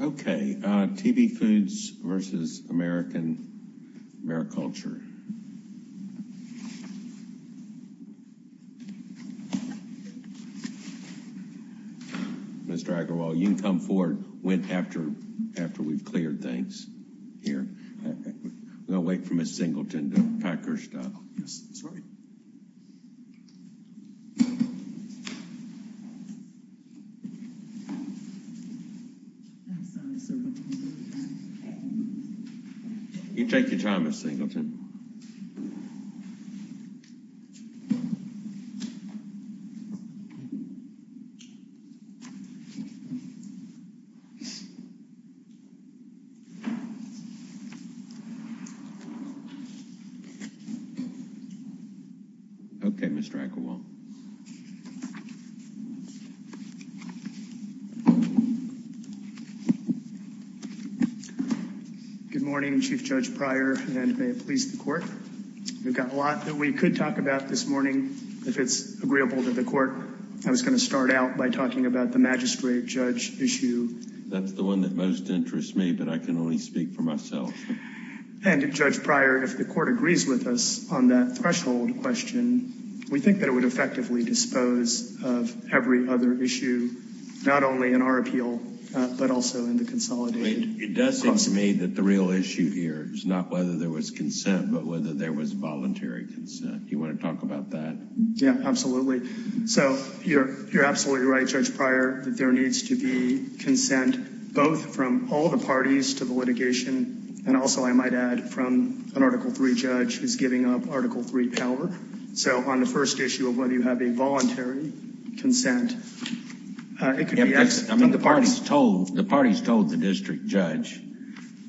Okay, TB Foods v. American Mariculture. Mr. Agrawal, you can come forward after we've cleared things here. We'll wait for Ms. Singleton to pack her stuff. You take your time, Ms. Singleton. Okay, Mr. Agrawal. Good morning, Chief Judge Pryor, and may it please the Court. We've got a lot that we could talk about this morning. If it's agreeable to the Court, I was going to start out by talking about the magistrate-judge issue. That's the one that most interests me, but I can only speak for myself. And, Judge Pryor, if the Court agrees with us on that threshold question, we think that it would effectively dispose of every other issue, not only in our appeal, but also in the consolidated. It does seem to me that the real issue here is not whether there was consent, but whether there was voluntary consent. You want to talk about that? Yeah, absolutely. So, you're absolutely right, Judge Pryor, that there needs to be consent, both from all the parties to the litigation, and also, I might add, from an Article III judge who's giving up Article III power. So, on the first issue of whether you have a voluntary consent, it could be asked from the parties. I mean, the parties told the district judge,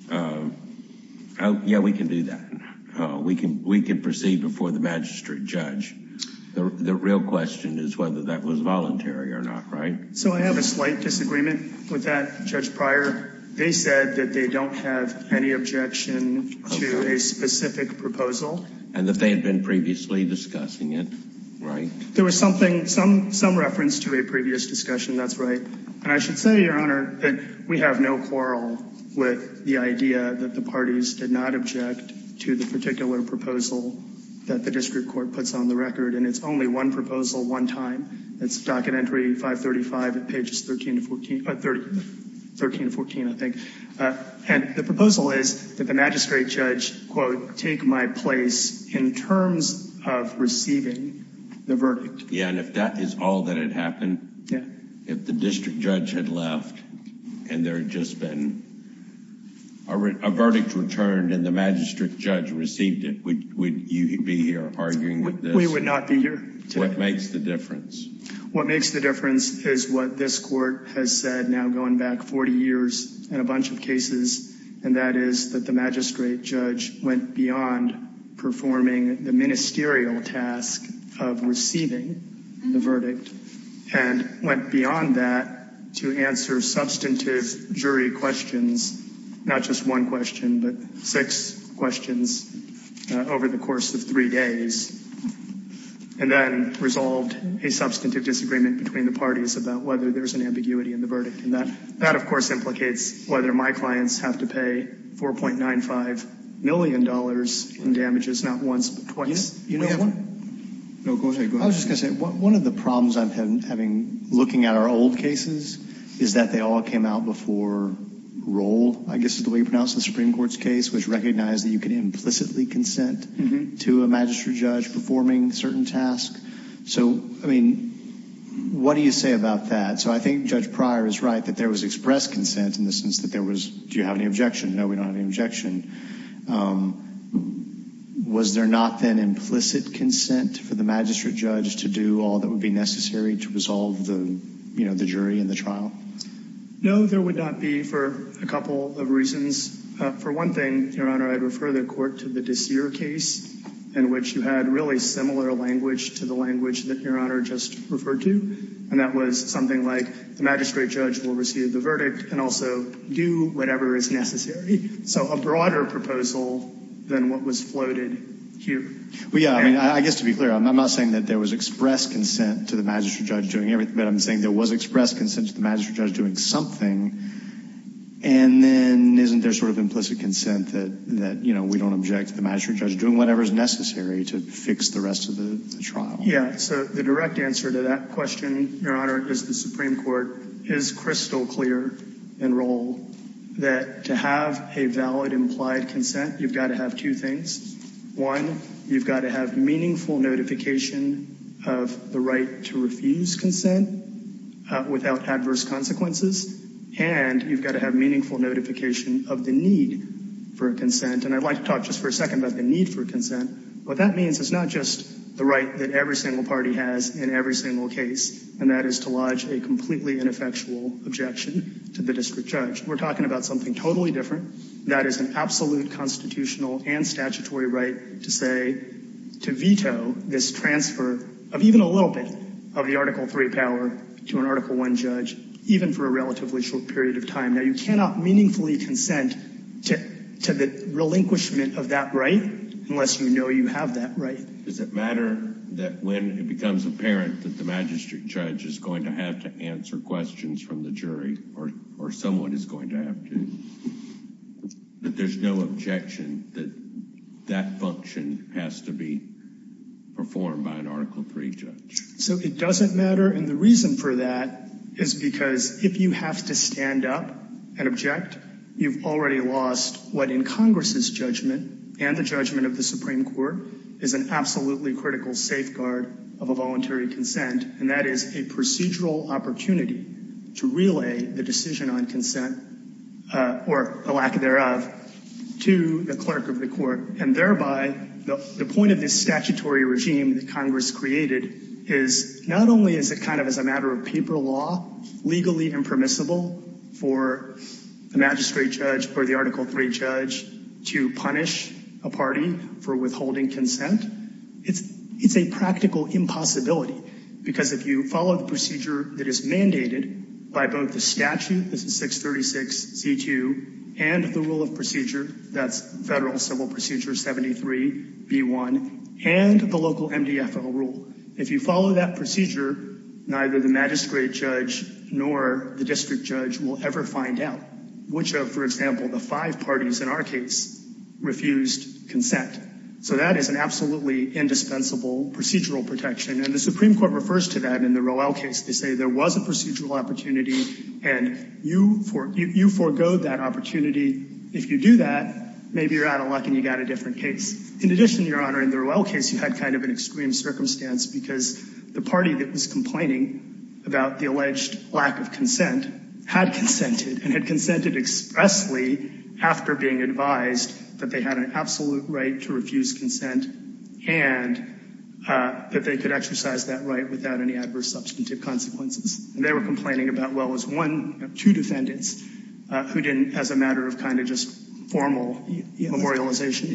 yeah, we can do that. We can proceed before the magistrate judge. The real question is whether that was voluntary or not, right? So, I have a slight disagreement with that, Judge Pryor. They said that they don't have any objection to a specific proposal. And that they had been previously discussing it, right? There was something, some reference to a previous discussion, that's right. And I should say, Your Honor, that we have no quarrel with the idea that the parties did not object to the particular proposal that the district court puts on the record. And it's only one proposal, one time. It's docket entry 535 at pages 13 to 14, 13 to 14, I think. And the proposal is that the magistrate judge, quote, take my place in terms of receiving the verdict. Yeah, and if that is all that had happened, if the district judge had left, and there had just been a verdict returned and the magistrate judge received it, would you be here arguing with this? We would not be here. What makes the difference? What makes the difference is what this court has said now going back 40 years and a bunch of cases. And that is that the magistrate judge went beyond performing the ministerial task of receiving the verdict and went beyond that to answer substantive jury questions. Not just one question, but six questions over the course of three days. And then resolved a substantive disagreement between the parties about whether there's an ambiguity in the verdict. And that, of course, implicates whether my clients have to pay $4.95 million in damages, not once but twice. You know what? No, go ahead. I was just going to say, one of the problems I'm having looking at our old cases is that they all came out before roll, I guess is the way you pronounce the Supreme Court's case, which recognized that you can implicitly consent to a magistrate judge performing certain tasks. So, I mean, what do you say about that? So I think Judge Pryor is right that there was expressed consent in the sense that there was, do you have any objection? No, we don't have any objection. Was there not then implicit consent for the magistrate judge to do all that would be necessary to resolve the jury in the trial? No, there would not be for a couple of reasons. For one thing, Your Honor, I'd refer the court to the Desir case, in which you had really similar language to the language that Your Honor just referred to. And that was something like the magistrate judge will receive the verdict and also do whatever is necessary. So a broader proposal than what was floated here. Well, yeah, I mean, I guess to be clear, I'm not saying that there was expressed consent to the magistrate judge doing everything, but I'm saying there was expressed consent to the magistrate judge doing something. And then isn't there sort of implicit consent that, you know, we don't object to the magistrate judge doing whatever is necessary to fix the rest of the trial? Yeah, so the direct answer to that question, Your Honor, is the Supreme Court is crystal clear in rule that to have a valid implied consent, you've got to have two things. One, you've got to have meaningful notification of the right to refuse consent without adverse consequences. And you've got to have meaningful notification of the need for consent. And I'd like to talk just for a second about the need for consent. What that means is not just the right that every single party has in every single case, and that is to lodge a completely ineffectual objection to the district judge. We're talking about something totally different. That is an absolute constitutional and statutory right to say, to veto this transfer of even a little bit of the Article III power to an Article I judge, even for a relatively short period of time. Now, you cannot meaningfully consent to the relinquishment of that right unless you know you have that right. Does it matter that when it becomes apparent that the magistrate judge is going to have to answer questions from the jury, or someone is going to have to, that there's no objection that that function has to be performed by an Article III judge? So it doesn't matter, and the reason for that is because if you have to stand up and object, you've already lost what in Congress's judgment and the judgment of the Supreme Court is an absolutely critical safeguard of a voluntary consent, and that is a procedural opportunity to relay the decision on consent, or the lack thereof, to the clerk of the court. And thereby, the point of this statutory regime that Congress created is not only is it kind of as a matter of paper law, legally impermissible for the magistrate judge or the Article III judge to punish a party for withholding consent, it's a practical impossibility because if you follow the procedure that is mandated by both the statute, this is 636Z2, and the rule of procedure, that's Federal Civil Procedure 73B1, and the local MDFO rule, if you follow that procedure, neither the magistrate judge nor the district judge will ever find out which of, for example, the five parties in our case refused consent. So that is an absolutely indispensable procedural protection, and the Supreme Court refers to that in the Roell case. They say there was a procedural opportunity and you foregoed that opportunity. If you do that, maybe you're out of luck and you got a different case. In addition, Your Honor, in the Roell case, you had kind of an extreme circumstance because the party that was complaining about the alleged lack of consent had consented and had consented expressly after being advised that they had an absolute right to refuse consent and that they could exercise that right without any adverse substantive consequences. And they were complaining about, well, it was one, two defendants who didn't, as a matter of kind of just formal memorialization.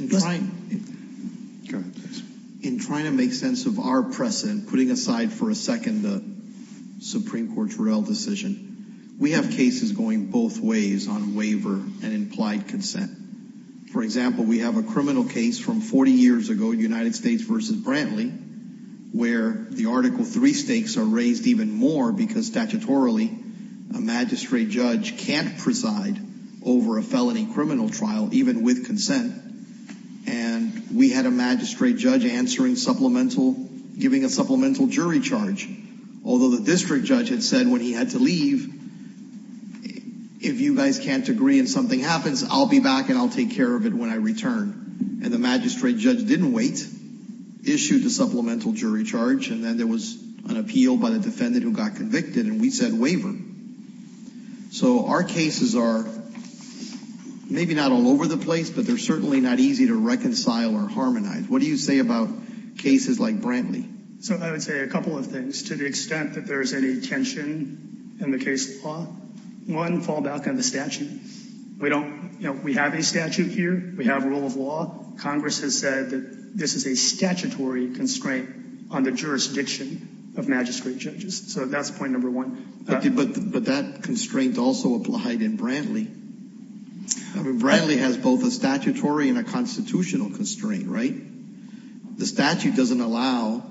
In trying to make sense of our precedent, putting aside for a second the Supreme Court's Roell decision, we have cases going both ways on waiver and implied consent. For example, we have a criminal case from 40 years ago, United States versus Brantley, where the Article III stakes are raised even more because statutorily a magistrate judge can't preside over a felony criminal trial, even with consent. And we had a magistrate judge answering supplemental, giving a supplemental jury charge, although the district judge had said when he had to leave, if you guys can't agree and something happens, I'll be back and I'll take care of it when I return. And the magistrate judge didn't wait, issued a supplemental jury charge, and then there was an appeal by the defendant who got convicted and we said waiver. So our cases are maybe not all over the place, but they're certainly not easy to reconcile or harmonize. What do you say about cases like Brantley? So I would say a couple of things to the extent that there's any tension in the case law. One, fall back on the statute. We don't, you know, we have a statute here. We have rule of law. Congress has said that this is a statutory constraint on the jurisdiction of magistrate judges. So that's point number one. But that constraint also applied in Brantley. Brantley has both a statutory and a constitutional constraint, right? The statute doesn't allow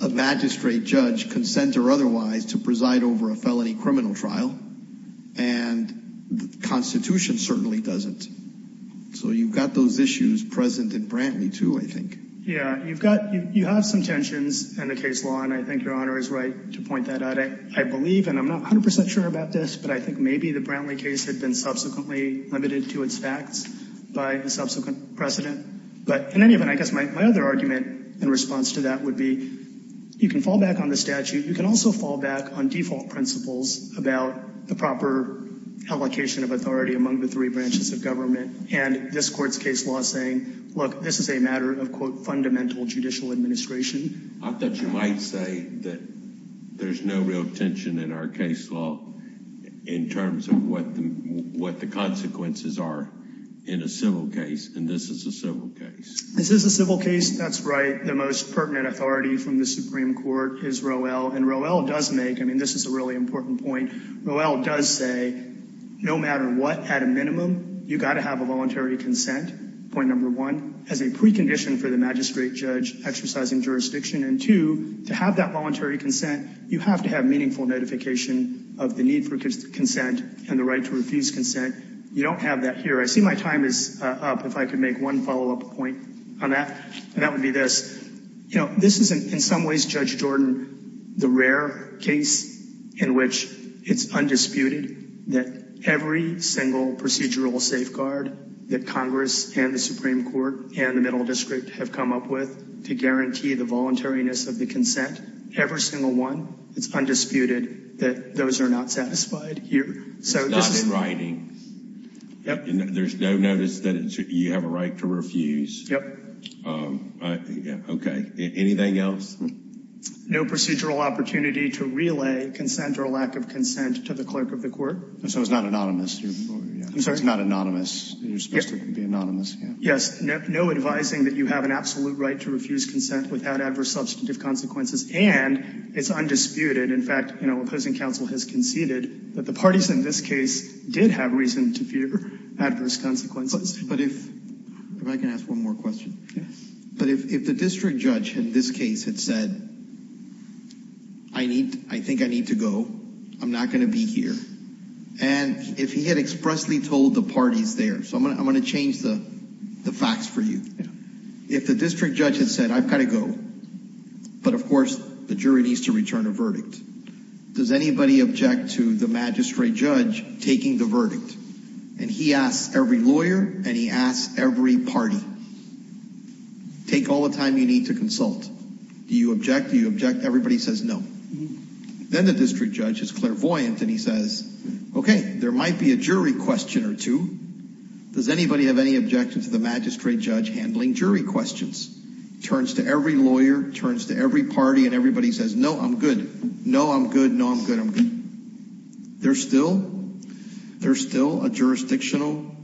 a magistrate judge, consent or otherwise, to preside over a felony criminal trial, and the Constitution certainly doesn't. So you've got those issues present in Brantley too, I think. Yeah, you've got, you have some tensions in the case law, and I think your Honor is right to point that out. I believe, and I'm not 100% sure about this, but I think maybe the Brantley case had been subsequently limited to its facts by the subsequent precedent. But in any event, I guess my other argument in response to that would be you can fall back on the statute. You can also fall back on default principles about the proper allocation of authority among the three branches of government. And this Court's case law is saying, look, this is a matter of, quote, fundamental judicial administration. I thought you might say that there's no real tension in our case law in terms of what the consequences are in a civil case. And this is a civil case. This is a civil case. That's right. The most pertinent authority from the Supreme Court is Roell. And Roell does make, I mean, this is a really important point. Roell does say no matter what, at a minimum, you've got to have a voluntary consent, point number one, as a precondition for the magistrate judge exercising jurisdiction. And two, to have that voluntary consent, you have to have meaningful notification of the need for consent and the right to refuse consent. You don't have that here. I see my time is up. If I could make one follow up point on that, and that would be this. You know, this is in some ways, Judge Jordan, the rare case in which it's undisputed that every single procedural safeguard that Congress and the Supreme Court and the Middle District have come up with to guarantee the voluntariness of the consent, every single one, it's undisputed that those are not satisfied here. It's not in writing. There's no notice that you have a right to refuse. Yep. Okay. Anything else? No procedural opportunity to relay consent or lack of consent to the clerk of the court. So it's not anonymous. I'm sorry? It's not anonymous. You're supposed to be anonymous. Yes. No advising that you have an absolute right to refuse consent without adverse substantive consequences. And it's undisputed, in fact, you know, opposing counsel has conceded that the parties in this case did have reason to fear adverse consequences. But if I can ask one more question. But if the district judge in this case had said, I need, I think I need to go. I'm not going to be here. And if he had expressly told the parties there, so I'm going to change the facts for you. If the district judge had said, I've got to go. But of course, the jury needs to return a verdict. And he asks every lawyer and he asks every party. Take all the time you need to consult. Do you object? Do you object? Everybody says no. Then the district judge is clairvoyant and he says, okay, there might be a jury question or two. Does anybody have any objection to the magistrate judge handling jury questions? Turns to every lawyer, turns to every party and everybody says, no, I'm good. No, I'm good. No, I'm good. There's still, there's still a jurisdictional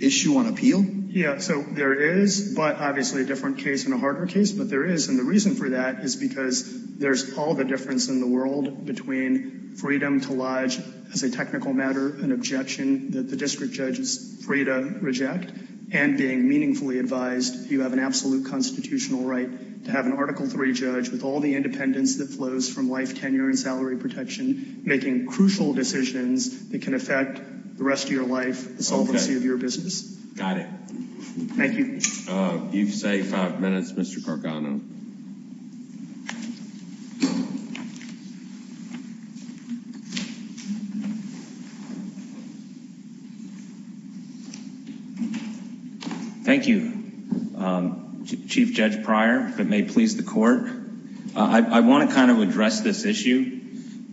issue on appeal? Yeah, so there is, but obviously a different case and a harder case. But there is. And the reason for that is because there's all the difference in the world between freedom to lodge as a technical matter, an objection that the district judge is free to reject and being meaningfully advised. You have an absolute constitutional right to have an Article 3 judge with all the independence that flows from life, making crucial decisions that can affect the rest of your life. The solvency of your business. Got it. Thank you. You've saved five minutes, Mr. Gargano. Thank you, Chief Judge Pryor. If it may please the court. I want to kind of address this issue.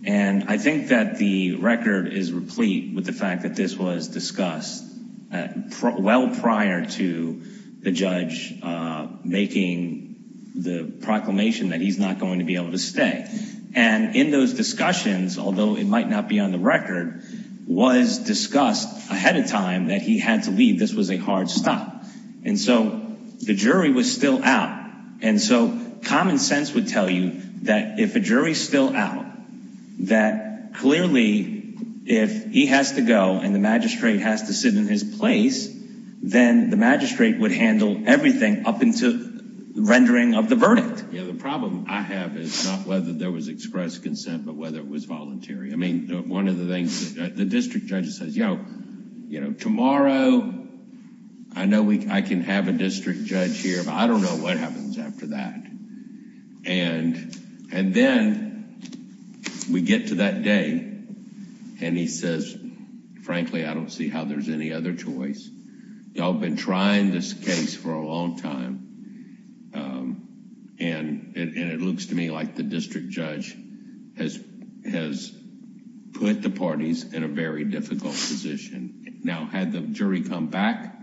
And I think that the record is replete with the fact that this was discussed well prior to the judge making the proclamation that he's not going to be able to stay. And in those discussions, although it might not be on the record, was discussed ahead of time that he had to leave. This was a hard stop. And so the jury was still out. And so common sense would tell you that if a jury is still out, that clearly if he has to go and the magistrate has to sit in his place, then the magistrate would handle everything up until the rendering of the verdict. Yeah, the problem I have is not whether there was expressed consent, but whether it was voluntary. I mean, one of the things the district judge says, yo, you know, tomorrow, I know I can have a district judge here. I don't know what happens after that. And then we get to that day and he says, frankly, I don't see how there's any other choice. Y'all been trying this case for a long time. And it looks to me like the district judge has put the parties in a very difficult position. Now, had the jury come back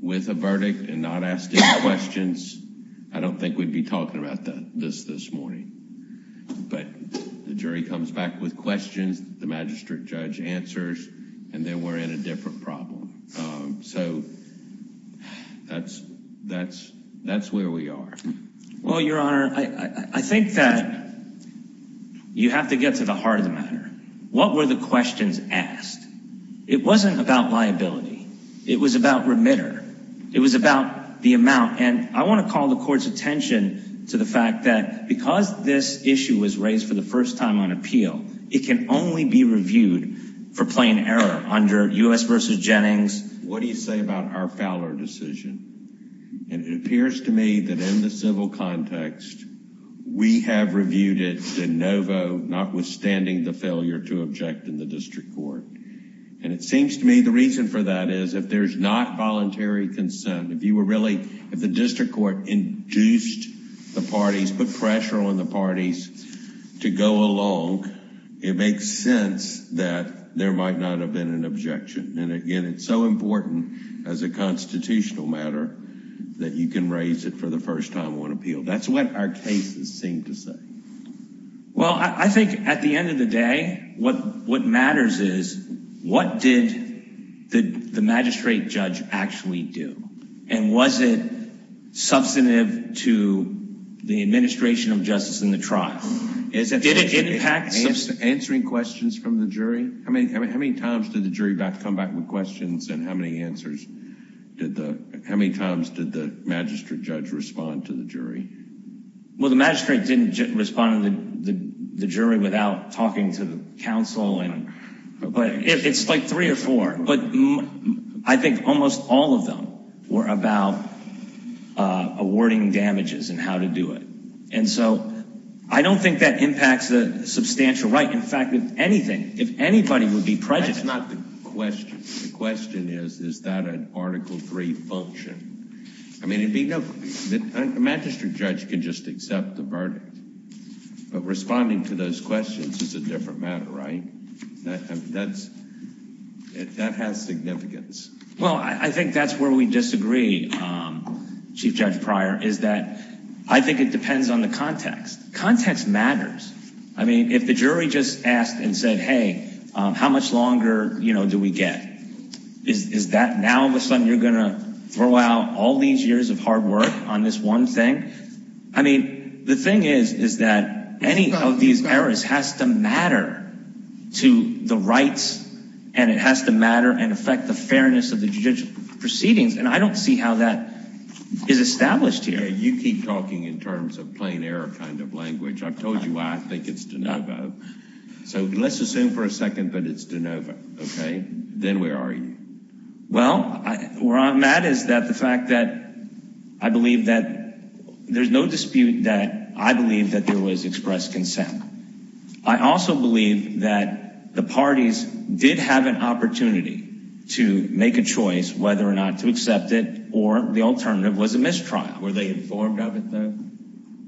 with a verdict and not asked any questions, I don't think we'd be talking about this this morning. But the jury comes back with questions, the magistrate judge answers, and then we're in a different problem. So that's that's that's where we are. Well, Your Honor, I think that you have to get to the heart of the matter. What were the questions asked? It wasn't about liability. It was about remitter. It was about the amount. And I want to call the court's attention to the fact that because this issue was raised for the first time on appeal, it can only be reviewed for plain error under U.S. versus Jennings. What do you say about our Fowler decision? And it appears to me that in the civil context, we have reviewed it de novo, notwithstanding the failure to object in the district court. And it seems to me the reason for that is if there's not voluntary consent, if you were really, if the district court induced the parties, put pressure on the parties to go along, it makes sense that there might not have been an objection. And again, it's so important as a constitutional matter that you can raise it for the first time on appeal. That's what our cases seem to say. Well, I think at the end of the day, what what matters is what did the magistrate judge actually do? And was it substantive to the administration of justice in the trial? Is it did it impact answering questions from the jury? I mean, how many times did the jury come back with questions and how many answers did the how many times did the magistrate judge respond to the jury? Well, the magistrate didn't respond to the jury without talking to the counsel. And it's like three or four. But I think almost all of them were about awarding damages and how to do it. And so I don't think that impacts the substantial right. In fact, if anything, if anybody would be prejudiced, not the question. The question is, is that an Article three function? I mean, it'd be no magistrate judge can just accept the verdict. But responding to those questions is a different matter, right? That's it. That has significance. Well, I think that's where we disagree. Chief Judge Pryor is that I think it depends on the context. Context matters. I mean, if the jury just asked and said, hey, how much longer do we get? Is that now all of a sudden you're going to throw out all these years of hard work on this one thing? I mean, the thing is, is that any of these errors has to matter to the rights and it has to matter and affect the fairness of the judicial proceedings. And I don't see how that is established here. You keep talking in terms of plain error kind of language. I've told you why I think it's de novo. So let's assume for a second that it's de novo. OK, then where are you? Well, where I'm at is that the fact that I believe that there's no dispute that I believe that there was expressed consent. I also believe that the parties did have an opportunity to make a choice whether or not to accept it or the alternative was a mistrial. Were they informed of it, though?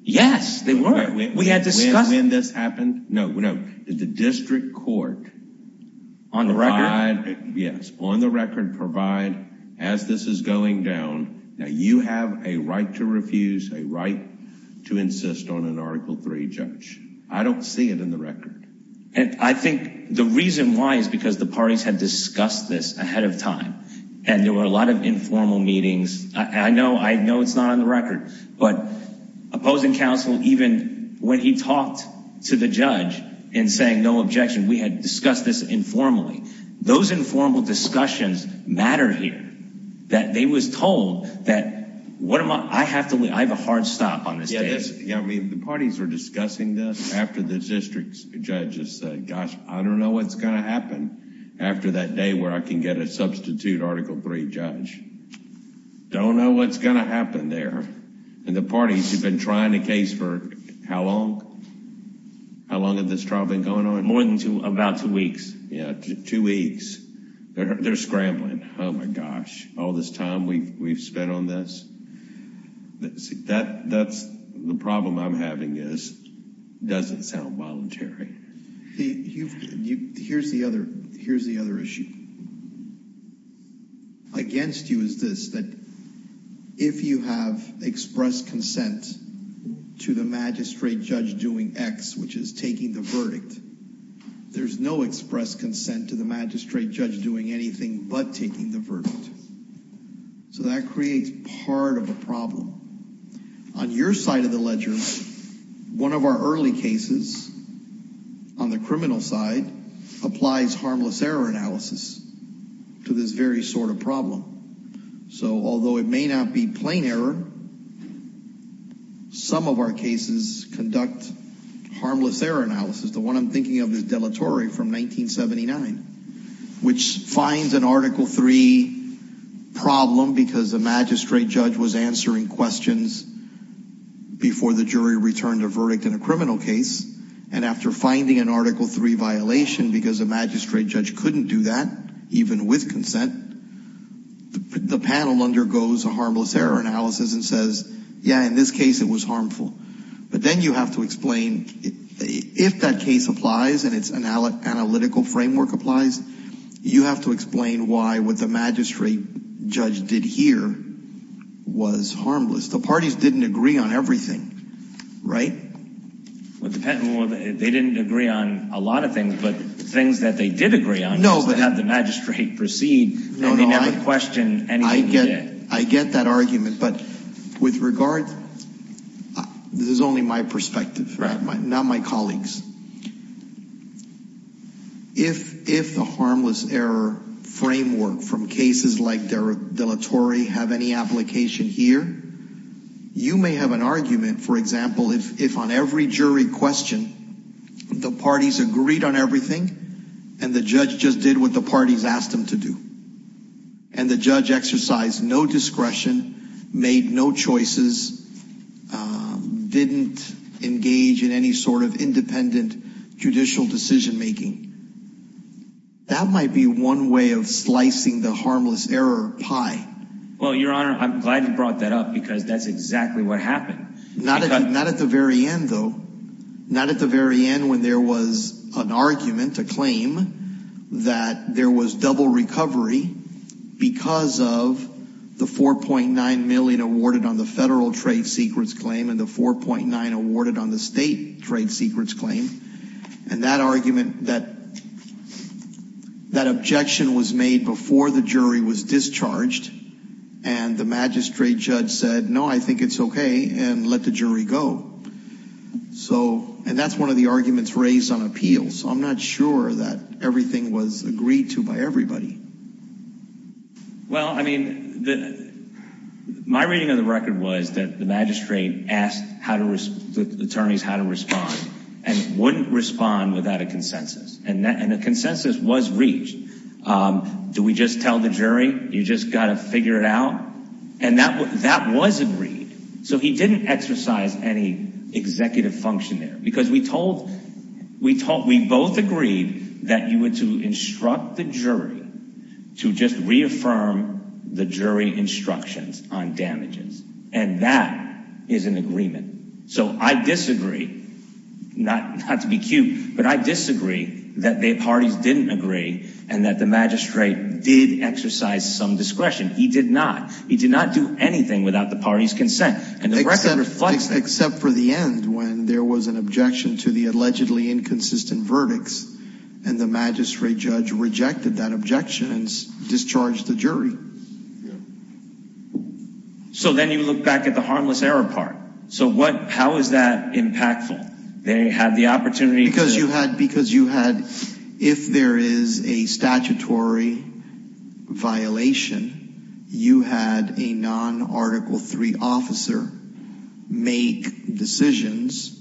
Yes, they were. We had discussed when this happened. No, no. Did the district court on the record? Yes. On the record, provide as this is going down. Now, you have a right to refuse a right to insist on an article three judge. I don't see it in the record. And I think the reason why is because the parties had discussed this ahead of time and there were a lot of informal meetings. I know I know it's not on the record, but opposing counsel, even when he talked to the judge and saying no objection, we had discussed this informally. Those informal discussions matter here that they was told that what am I have to leave? I have a hard stop on this. Yeah, I mean, the parties were discussing this after the district judges said, gosh, I don't know what's going to happen after that day where I can get a substitute article three judge. Don't know what's going to happen there. And the parties have been trying to case for how long? How long have this trial been going on? More than two, about two weeks. Yeah, two weeks. They're scrambling. Oh, my gosh. All this time we've spent on this. That's the problem I'm having is doesn't sound voluntary. Here's the other. Here's the other issue. Against you is this that if you have expressed consent to the magistrate judge doing X, which is taking the verdict, there's no express consent to the magistrate judge doing anything but taking the verdict. So that creates part of the problem on your side of the ledger. One of our early cases on the criminal side applies harmless error analysis to this very sort of problem. So although it may not be plain error, some of our cases conduct harmless error analysis. The one I'm thinking of is deletory from 1979, which finds an article three problem because a magistrate judge was answering questions before the jury returned a verdict in a criminal case, and after finding an article three violation because a magistrate judge couldn't do that, even with consent, the panel undergoes a harmless error analysis and says, yeah, in this case it was harmful. But then you have to explain if that case applies and it's an analytical framework applies, you have to explain why what the magistrate judge did here was harmless. The parties didn't agree on everything, right? Well, they didn't agree on a lot of things, but the things that they did agree on was to have the magistrate proceed, and they never questioned anything he did. I get that argument, but with regard, this is only my perspective, not my colleagues. If the harmless error framework from cases like deletory have any application here, you may have an argument, for example, if on every jury question, the parties agreed on everything, and the judge just did what the parties asked him to do, and the judge exercised no discretion, made no choices, didn't engage in any sort of independent inquiry. That might be one way of slicing the harmless error pie. Well, Your Honor, I'm glad you brought that up because that's exactly what happened. Not at the very end, though. Not at the very end when there was an argument, a claim, that there was double recovery because of the $4.9 million awarded on the federal trade secrets claim and the $4.9 million awarded on the state trade secrets claim. And that argument, that objection was made before the jury was discharged, and the magistrate judge said, no, I think it's okay, and let the jury go. So, and that's one of the arguments raised on appeals. I'm not sure that everything was agreed to by everybody. Well, I mean, my reading of the record was that the magistrate asked the attorneys how to respond and wouldn't respond without a consensus. And the consensus was reached. Do we just tell the jury? You just got to figure it out? And that was agreed. So, he didn't exercise any executive function there because we told, we both agreed that you were to instruct the jury to just reaffirm the jury instructions on damages. And that is an agreement. So, I disagree, not to be cute, but I disagree that the parties didn't agree and that the magistrate did exercise some discretion. He did not. He did not do anything without the party's consent. And the record reflects that. Except for the end when there was an objection to the allegedly inconsistent verdicts, and the magistrate judge rejected that objection and discharged the jury. So, then you look back at the harmless error part. So, what, how is that impactful? They had the opportunity to. Because you had, because you had, if there is a statutory violation, you had a non-Article III officer make decisions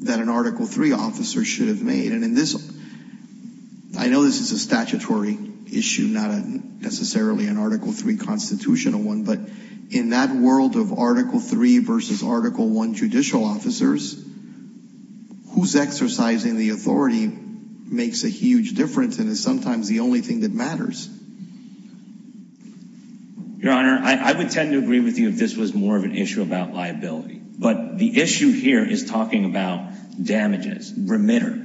that an Article III officer should have made. And in this, I know this is a statutory issue, not necessarily an Article III constitutional one. But in that world of Article III versus Article I judicial officers, who's exercising the authority makes a huge difference and is sometimes the only thing that matters. Your Honor, I would tend to agree with you if this was more of an issue about liability. But the issue here is talking about damages, remitter.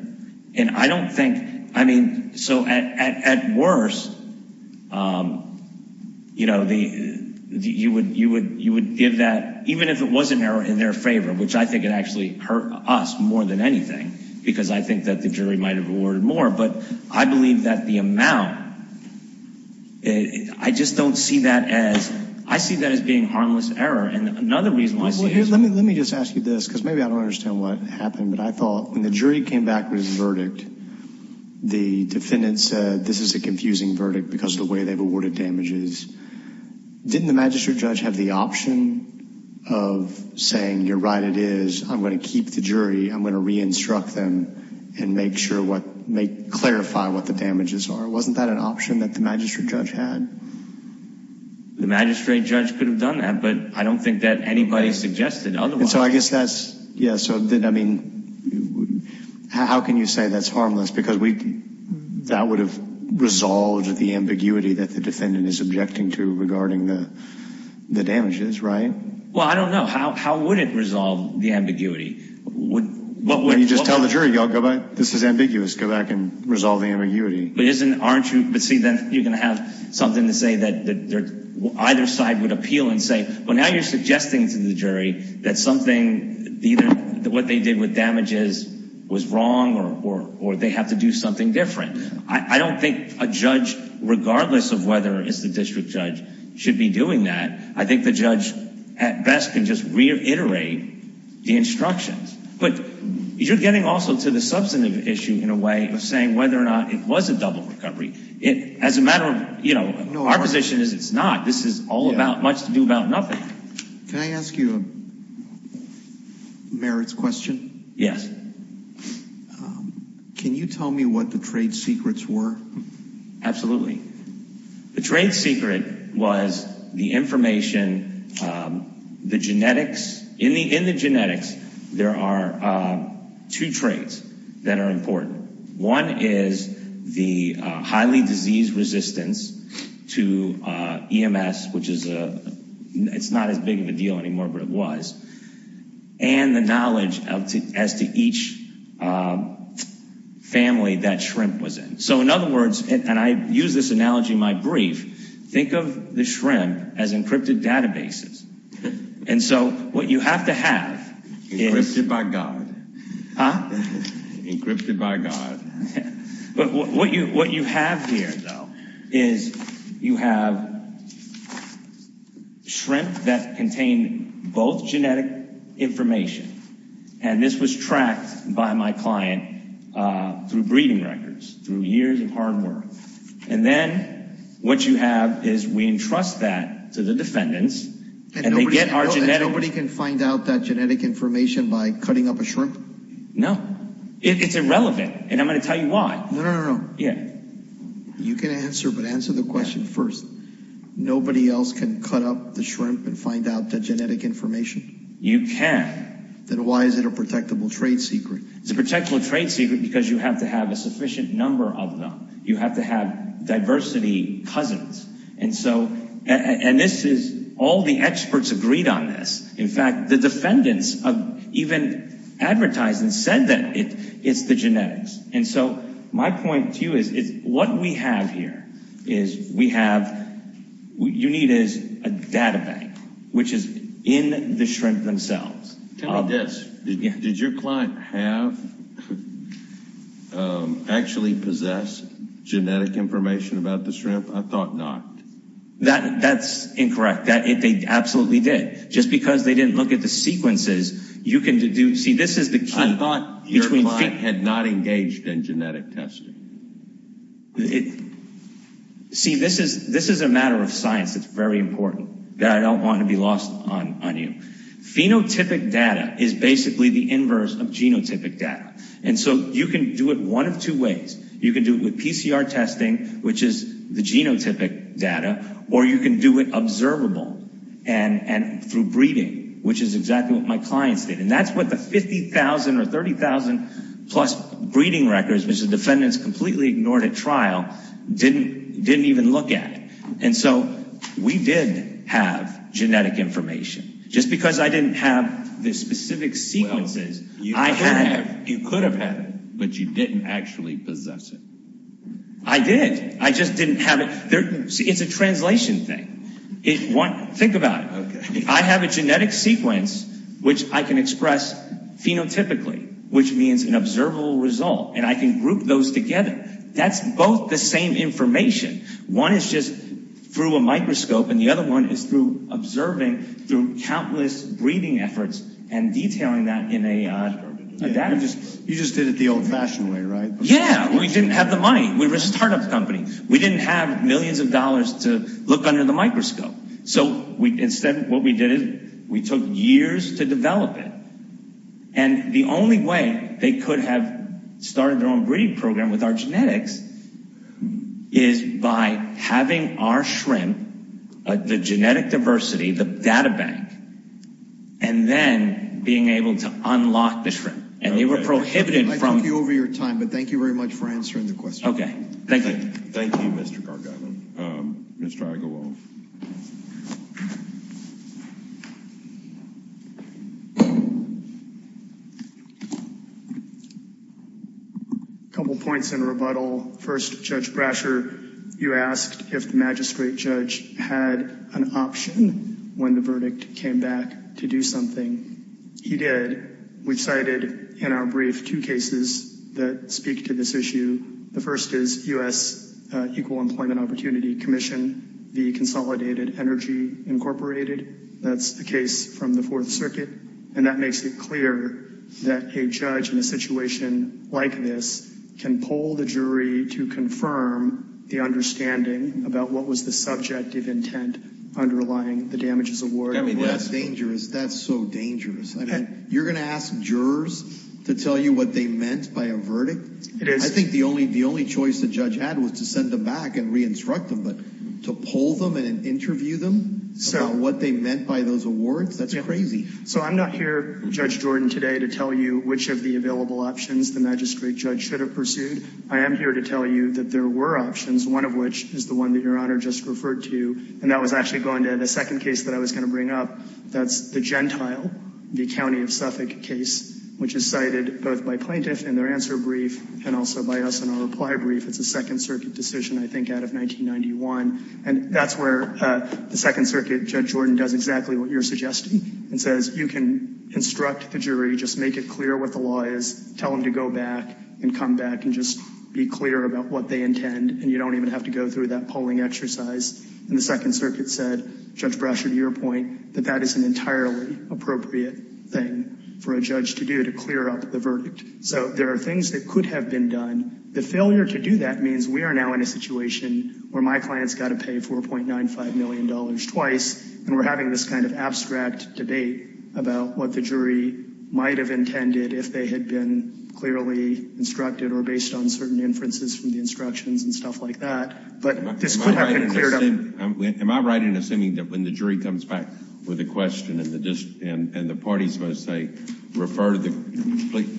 And I don't think, I mean, so at worst, you know, you would give that, even if it wasn't in their favor, which I think it actually hurt us more than anything. Because I think that the jury might have awarded more. But I believe that the amount, I just don't see that as, I see that as being harmless error. And another reason I see is... Let me just ask you this, because maybe I don't understand what happened. But I thought, when the jury came back with a verdict, the defendant said, this is a confusing verdict because of the way they've awarded damages. Didn't the magistrate judge have the option of saying, you're right, it is. I'm going to keep the jury. I'm going to re-instruct them and make sure, clarify what the damages are. Wasn't that an option that the magistrate judge had? The magistrate judge could have done that. But I don't think that anybody suggested otherwise. So I guess that's, yeah, so I mean, how can you say that's harmless? Because that would have resolved the ambiguity that the defendant is objecting to regarding the damages, right? Well, I don't know. How would it resolve the ambiguity? When you just tell the jury, go back, this is ambiguous, go back and resolve the ambiguity. But isn't, aren't you, but see, then you're going to have something to say that either side would appeal and say, well, now you're suggesting to the jury that something, either what they did with damages was wrong or they have to do something different. I don't think a judge, regardless of whether it's the district judge, should be doing that. I think the judge, at best, can just reiterate the instructions. But you're getting also to the substantive issue in a way of saying whether or not it was a double recovery. As a matter of, you know, our position is it's not. This is all about, much to do about nothing. Can I ask you a merits question? Yes. Can you tell me what the trade secrets were? Absolutely. The trade secret was the information, the genetics. In the genetics, there are two traits that are important. One is the highly disease resistance to EMS, which is a, it's not as big of a deal anymore, but it was. And the knowledge as to each family that shrimp was in. So in other words, and I use this analogy in my brief, think of the shrimp as encrypted databases. And so what you have to have is. Encrypted by God. Huh? Encrypted by God. But what you have here, though, is you have shrimp that contain both genetic information. And this was tracked by my client through breeding records, through years of hard work. And then what you have is we entrust that to the defendants and they get our genetic. Nobody can find out that genetic information by cutting up a shrimp? No, it's irrelevant. And I'm going to tell you why. No, no, no. Yeah. You can answer, but answer the question first. Nobody else can cut up the shrimp and find out the genetic information. You can. Then why is it a protectable trade secret? It's a protectable trade secret because you have to have a sufficient number of them. You have to have diversity cousins. And so, and this is, all the experts agreed on this. In fact, the defendants have even advertised and said that it's the genetics. And so, my point to you is what we have here is we have, what you need is a data bank, which is in the shrimp themselves. Tell me this. Did your client have, actually possess genetic information about the shrimp? I thought not. That's incorrect. They absolutely did. Just because they didn't look at the sequences, you can do, see this is the key. I thought your client had not engaged in genetic testing. See, this is a matter of science that's very important that I don't want to be lost on you. Phenotypic data is basically the inverse of genotypic data. And so, you can do it one of two ways. You can do it with PCR testing, which is the genotypic data, or you can do it observable and through breeding, which is exactly what my clients did. And that's what the 50,000 or 30,000 plus breeding records, which the defendants completely ignored at trial, didn't even look at. And so, we did have genetic information. Just because I didn't have the specific sequences, I had. You could have had it, but you didn't actually possess it. I did. I just didn't have it. It's a translation thing. Think about it. I have a genetic sequence, which I can express phenotypically, which means an observable result, and I can group those together. That's both the same information. One is just through a microscope, and the other one is through observing through countless breeding efforts and detailing that in a database. You just did it the old-fashioned way, right? Yeah. We didn't have the money. We were a startup company. We didn't have millions of dollars to look under the microscope. So, instead, what we did is we took years to develop it, and the only way they could have started their own breeding program with our genetics is by having our shrimp, the genetic diversity, the data bank, and then being able to unlock the shrimp. And they were prohibited from... I took you over your time, but thank you very much for answering the question. Okay. Thank you. Thank you, Mr. Gargamel. Thank you, Mr. Gargamel. A couple points in rebuttal. First, Judge Brasher, you asked if the magistrate judge had an option when the verdict came back to do something. He did. We've cited in our brief two cases that speak to this issue. The first is U.S. Equal Employment Opportunity Commission v. Consolidated Energy Incorporated. That's the case from the Fourth Circuit, and that makes it clear that a judge in a situation like this can poll the jury to confirm the understanding about what was the subjective intent underlying the damages awarded. I mean, that's dangerous. That's so dangerous. I mean, you're going to ask jurors to tell you what they meant by a verdict? It is. I think the only choice the judge had was to send them back and re-instruct them, but to poll them and interview them about what they meant by those awards? That's crazy. So I'm not here, Judge Jordan, today to tell you which of the available options the magistrate judge should have pursued. I am here to tell you that there were options, one of which is the one that Your Honor just referred to, and that was actually going to the second case that I was going to bring up. That's the Gentile v. County of Suffolk case, which is cited both by plaintiff in their answer brief and also by us in our reply brief. It's a Second Circuit decision, I think, out of 1991. And that's where the Second Circuit, Judge Jordan, does exactly what you're suggesting and says, you can instruct the jury, just make it clear what the law is, tell them to go back and come back and just be clear about what they intend, and you don't even have to go through that polling exercise. And the Second Circuit said, Judge Brasher, to your point, that that is an entirely appropriate thing for a judge to do to clear up the verdict. So there are things that could have been done. The failure to do that means we are now in a situation where my client's got to pay $4.95 million twice, and we're having this kind of abstract debate about what the jury might have intended if they had been clearly instructed or based on certain inferences from the instructions and stuff like that. But this could have been cleared up. Am I right in assuming that when the jury comes back with a question and the party's going to say,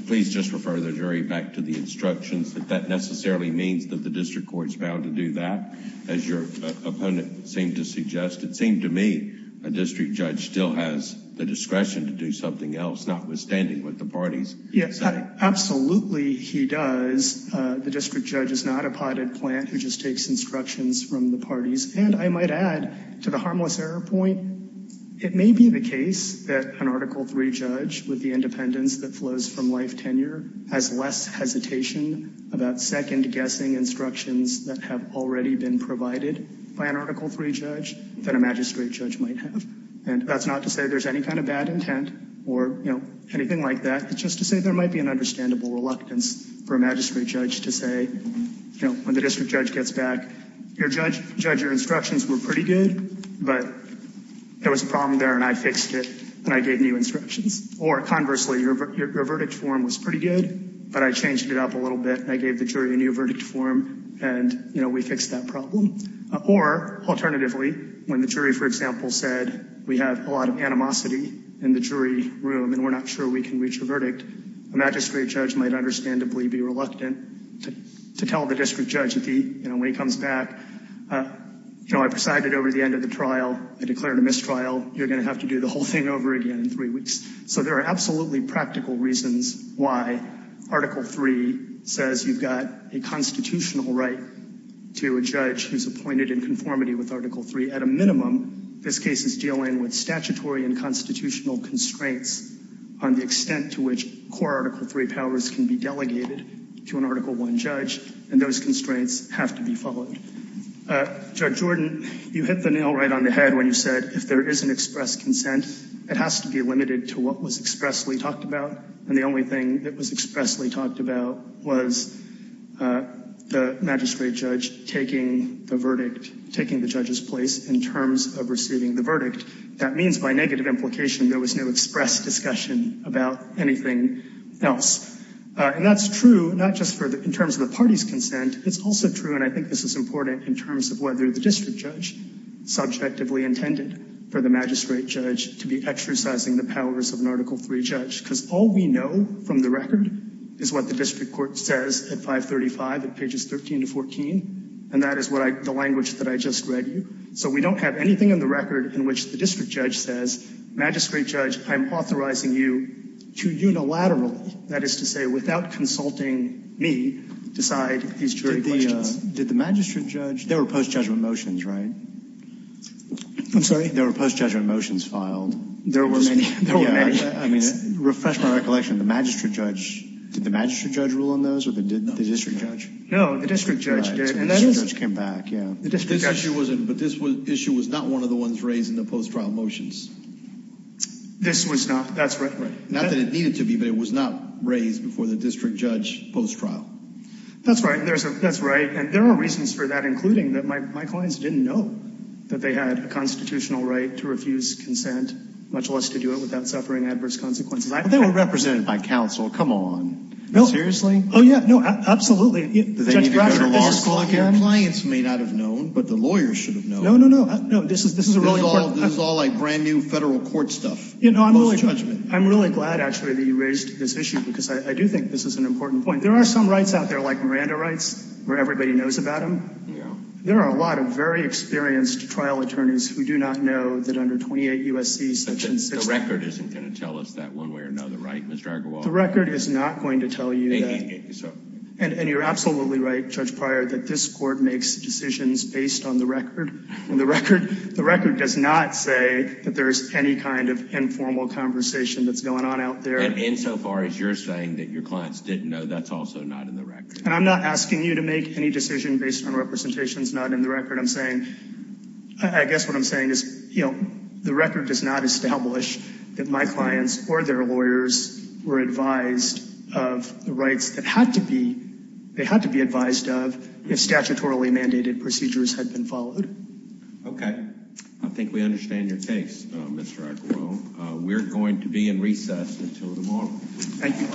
please just refer the jury back to the instructions, that that necessarily means that the district court's bound to do that, as your opponent seemed to suggest? It seemed to me a district judge still has the discretion to do something else, notwithstanding what the parties say. Absolutely he does. The district judge is not a potted plant who just takes instructions from the parties. And I might add, to the harmless error point, it may be the case that an Article III judge with the independence that flows from life tenure has less hesitation about second-guessing instructions that have already been provided by an Article III judge than a magistrate judge might have. And that's not to say there's any kind of bad intent or anything like that. It's just to say there might be an understandable reluctance for a magistrate judge to say, you know, when the district judge gets back, your judge, your instructions were pretty good, but there was a problem there and I fixed it and I gave new instructions. Or, conversely, your verdict form was pretty good, but I changed it up a little bit and I gave the jury a new verdict form and, you know, we fixed that problem. Or, alternatively, when the jury, for example, said we have a lot of animosity in the jury room and we're not sure we can reach a verdict, a magistrate judge might understandably be to tell the district judge, you know, when he comes back, you know, I presided over the end of the trial, I declared a mistrial, you're going to have to do the whole thing over again in three weeks. So, there are absolutely practical reasons why Article III says you've got a constitutional right to a judge who's appointed in conformity with Article III. At a minimum, this case is dealing with statutory and constitutional constraints on the extent to which core Article III powers can be delegated to an Article I judge, and those constraints have to be followed. Judge Jordan, you hit the nail right on the head when you said if there is an express consent, it has to be limited to what was expressly talked about, and the only thing that was expressly talked about was the magistrate judge taking the verdict, taking the judge's place in terms of receiving the verdict. That means by negative implication, there was no express discussion about anything else. And that's true, not just in terms of the party's consent, it's also true, and I think this is important in terms of whether the district judge subjectively intended for the magistrate judge to be exercising the powers of an Article III judge, because all we know from the record is what the district court says at 535, at pages 13 to 14, and that is the language that I just read you. So we don't have anything in the record in which the district judge says, magistrate judge, I'm authorizing you to unilaterally, that is to say without consulting me, decide these jury questions. Did the magistrate judge, there were post-judgment motions, right? I'm sorry? There were post-judgment motions filed. There were many. Refresh my recollection, the magistrate judge, did the magistrate judge rule on those, or did the district judge? No, the district judge did. The district judge came back, yeah. But this issue was not one of the ones raised in the post-trial motions. This was not, that's right. Not that it needed to be, but it was not raised before the district judge post-trial. That's right, and there are reasons for that, including that my clients didn't know that they had a constitutional right to refuse consent, much less to do it without suffering adverse consequences. But they were represented by counsel, come on. Seriously? Oh yeah, no, absolutely. Do they need to go to law school again? Your clients may not have known, but the lawyers should have known. No, no, no, this is a really important. This is all like brand new federal court stuff. Post-judgment. I'm really glad, actually, that you raised this issue, because I do think this is an important point. There are some rights out there, like Miranda rights, where everybody knows about them. There are a lot of very experienced trial attorneys who do not know that under 28 U.S.C. The record isn't going to tell us that one way or another, right, Mr. Argarwal? The record is not going to tell you that. And you're absolutely right, Judge Pryor, that this court makes decisions based on the record. The record does not say that there's any kind of informal conversation that's going on out there. And insofar as you're saying that your clients didn't know, that's also not in the record. And I'm not asking you to make any decision based on representations not in the record. I'm saying, I guess what I'm saying is, you know, the record does not establish that my clients or their lawyers were advised of the rights that they had to be advised of if statutorily mandated procedures had been followed. Okay. I think we understand your case, Mr. Argarwal. We're going to be in recess until tomorrow. Thank you.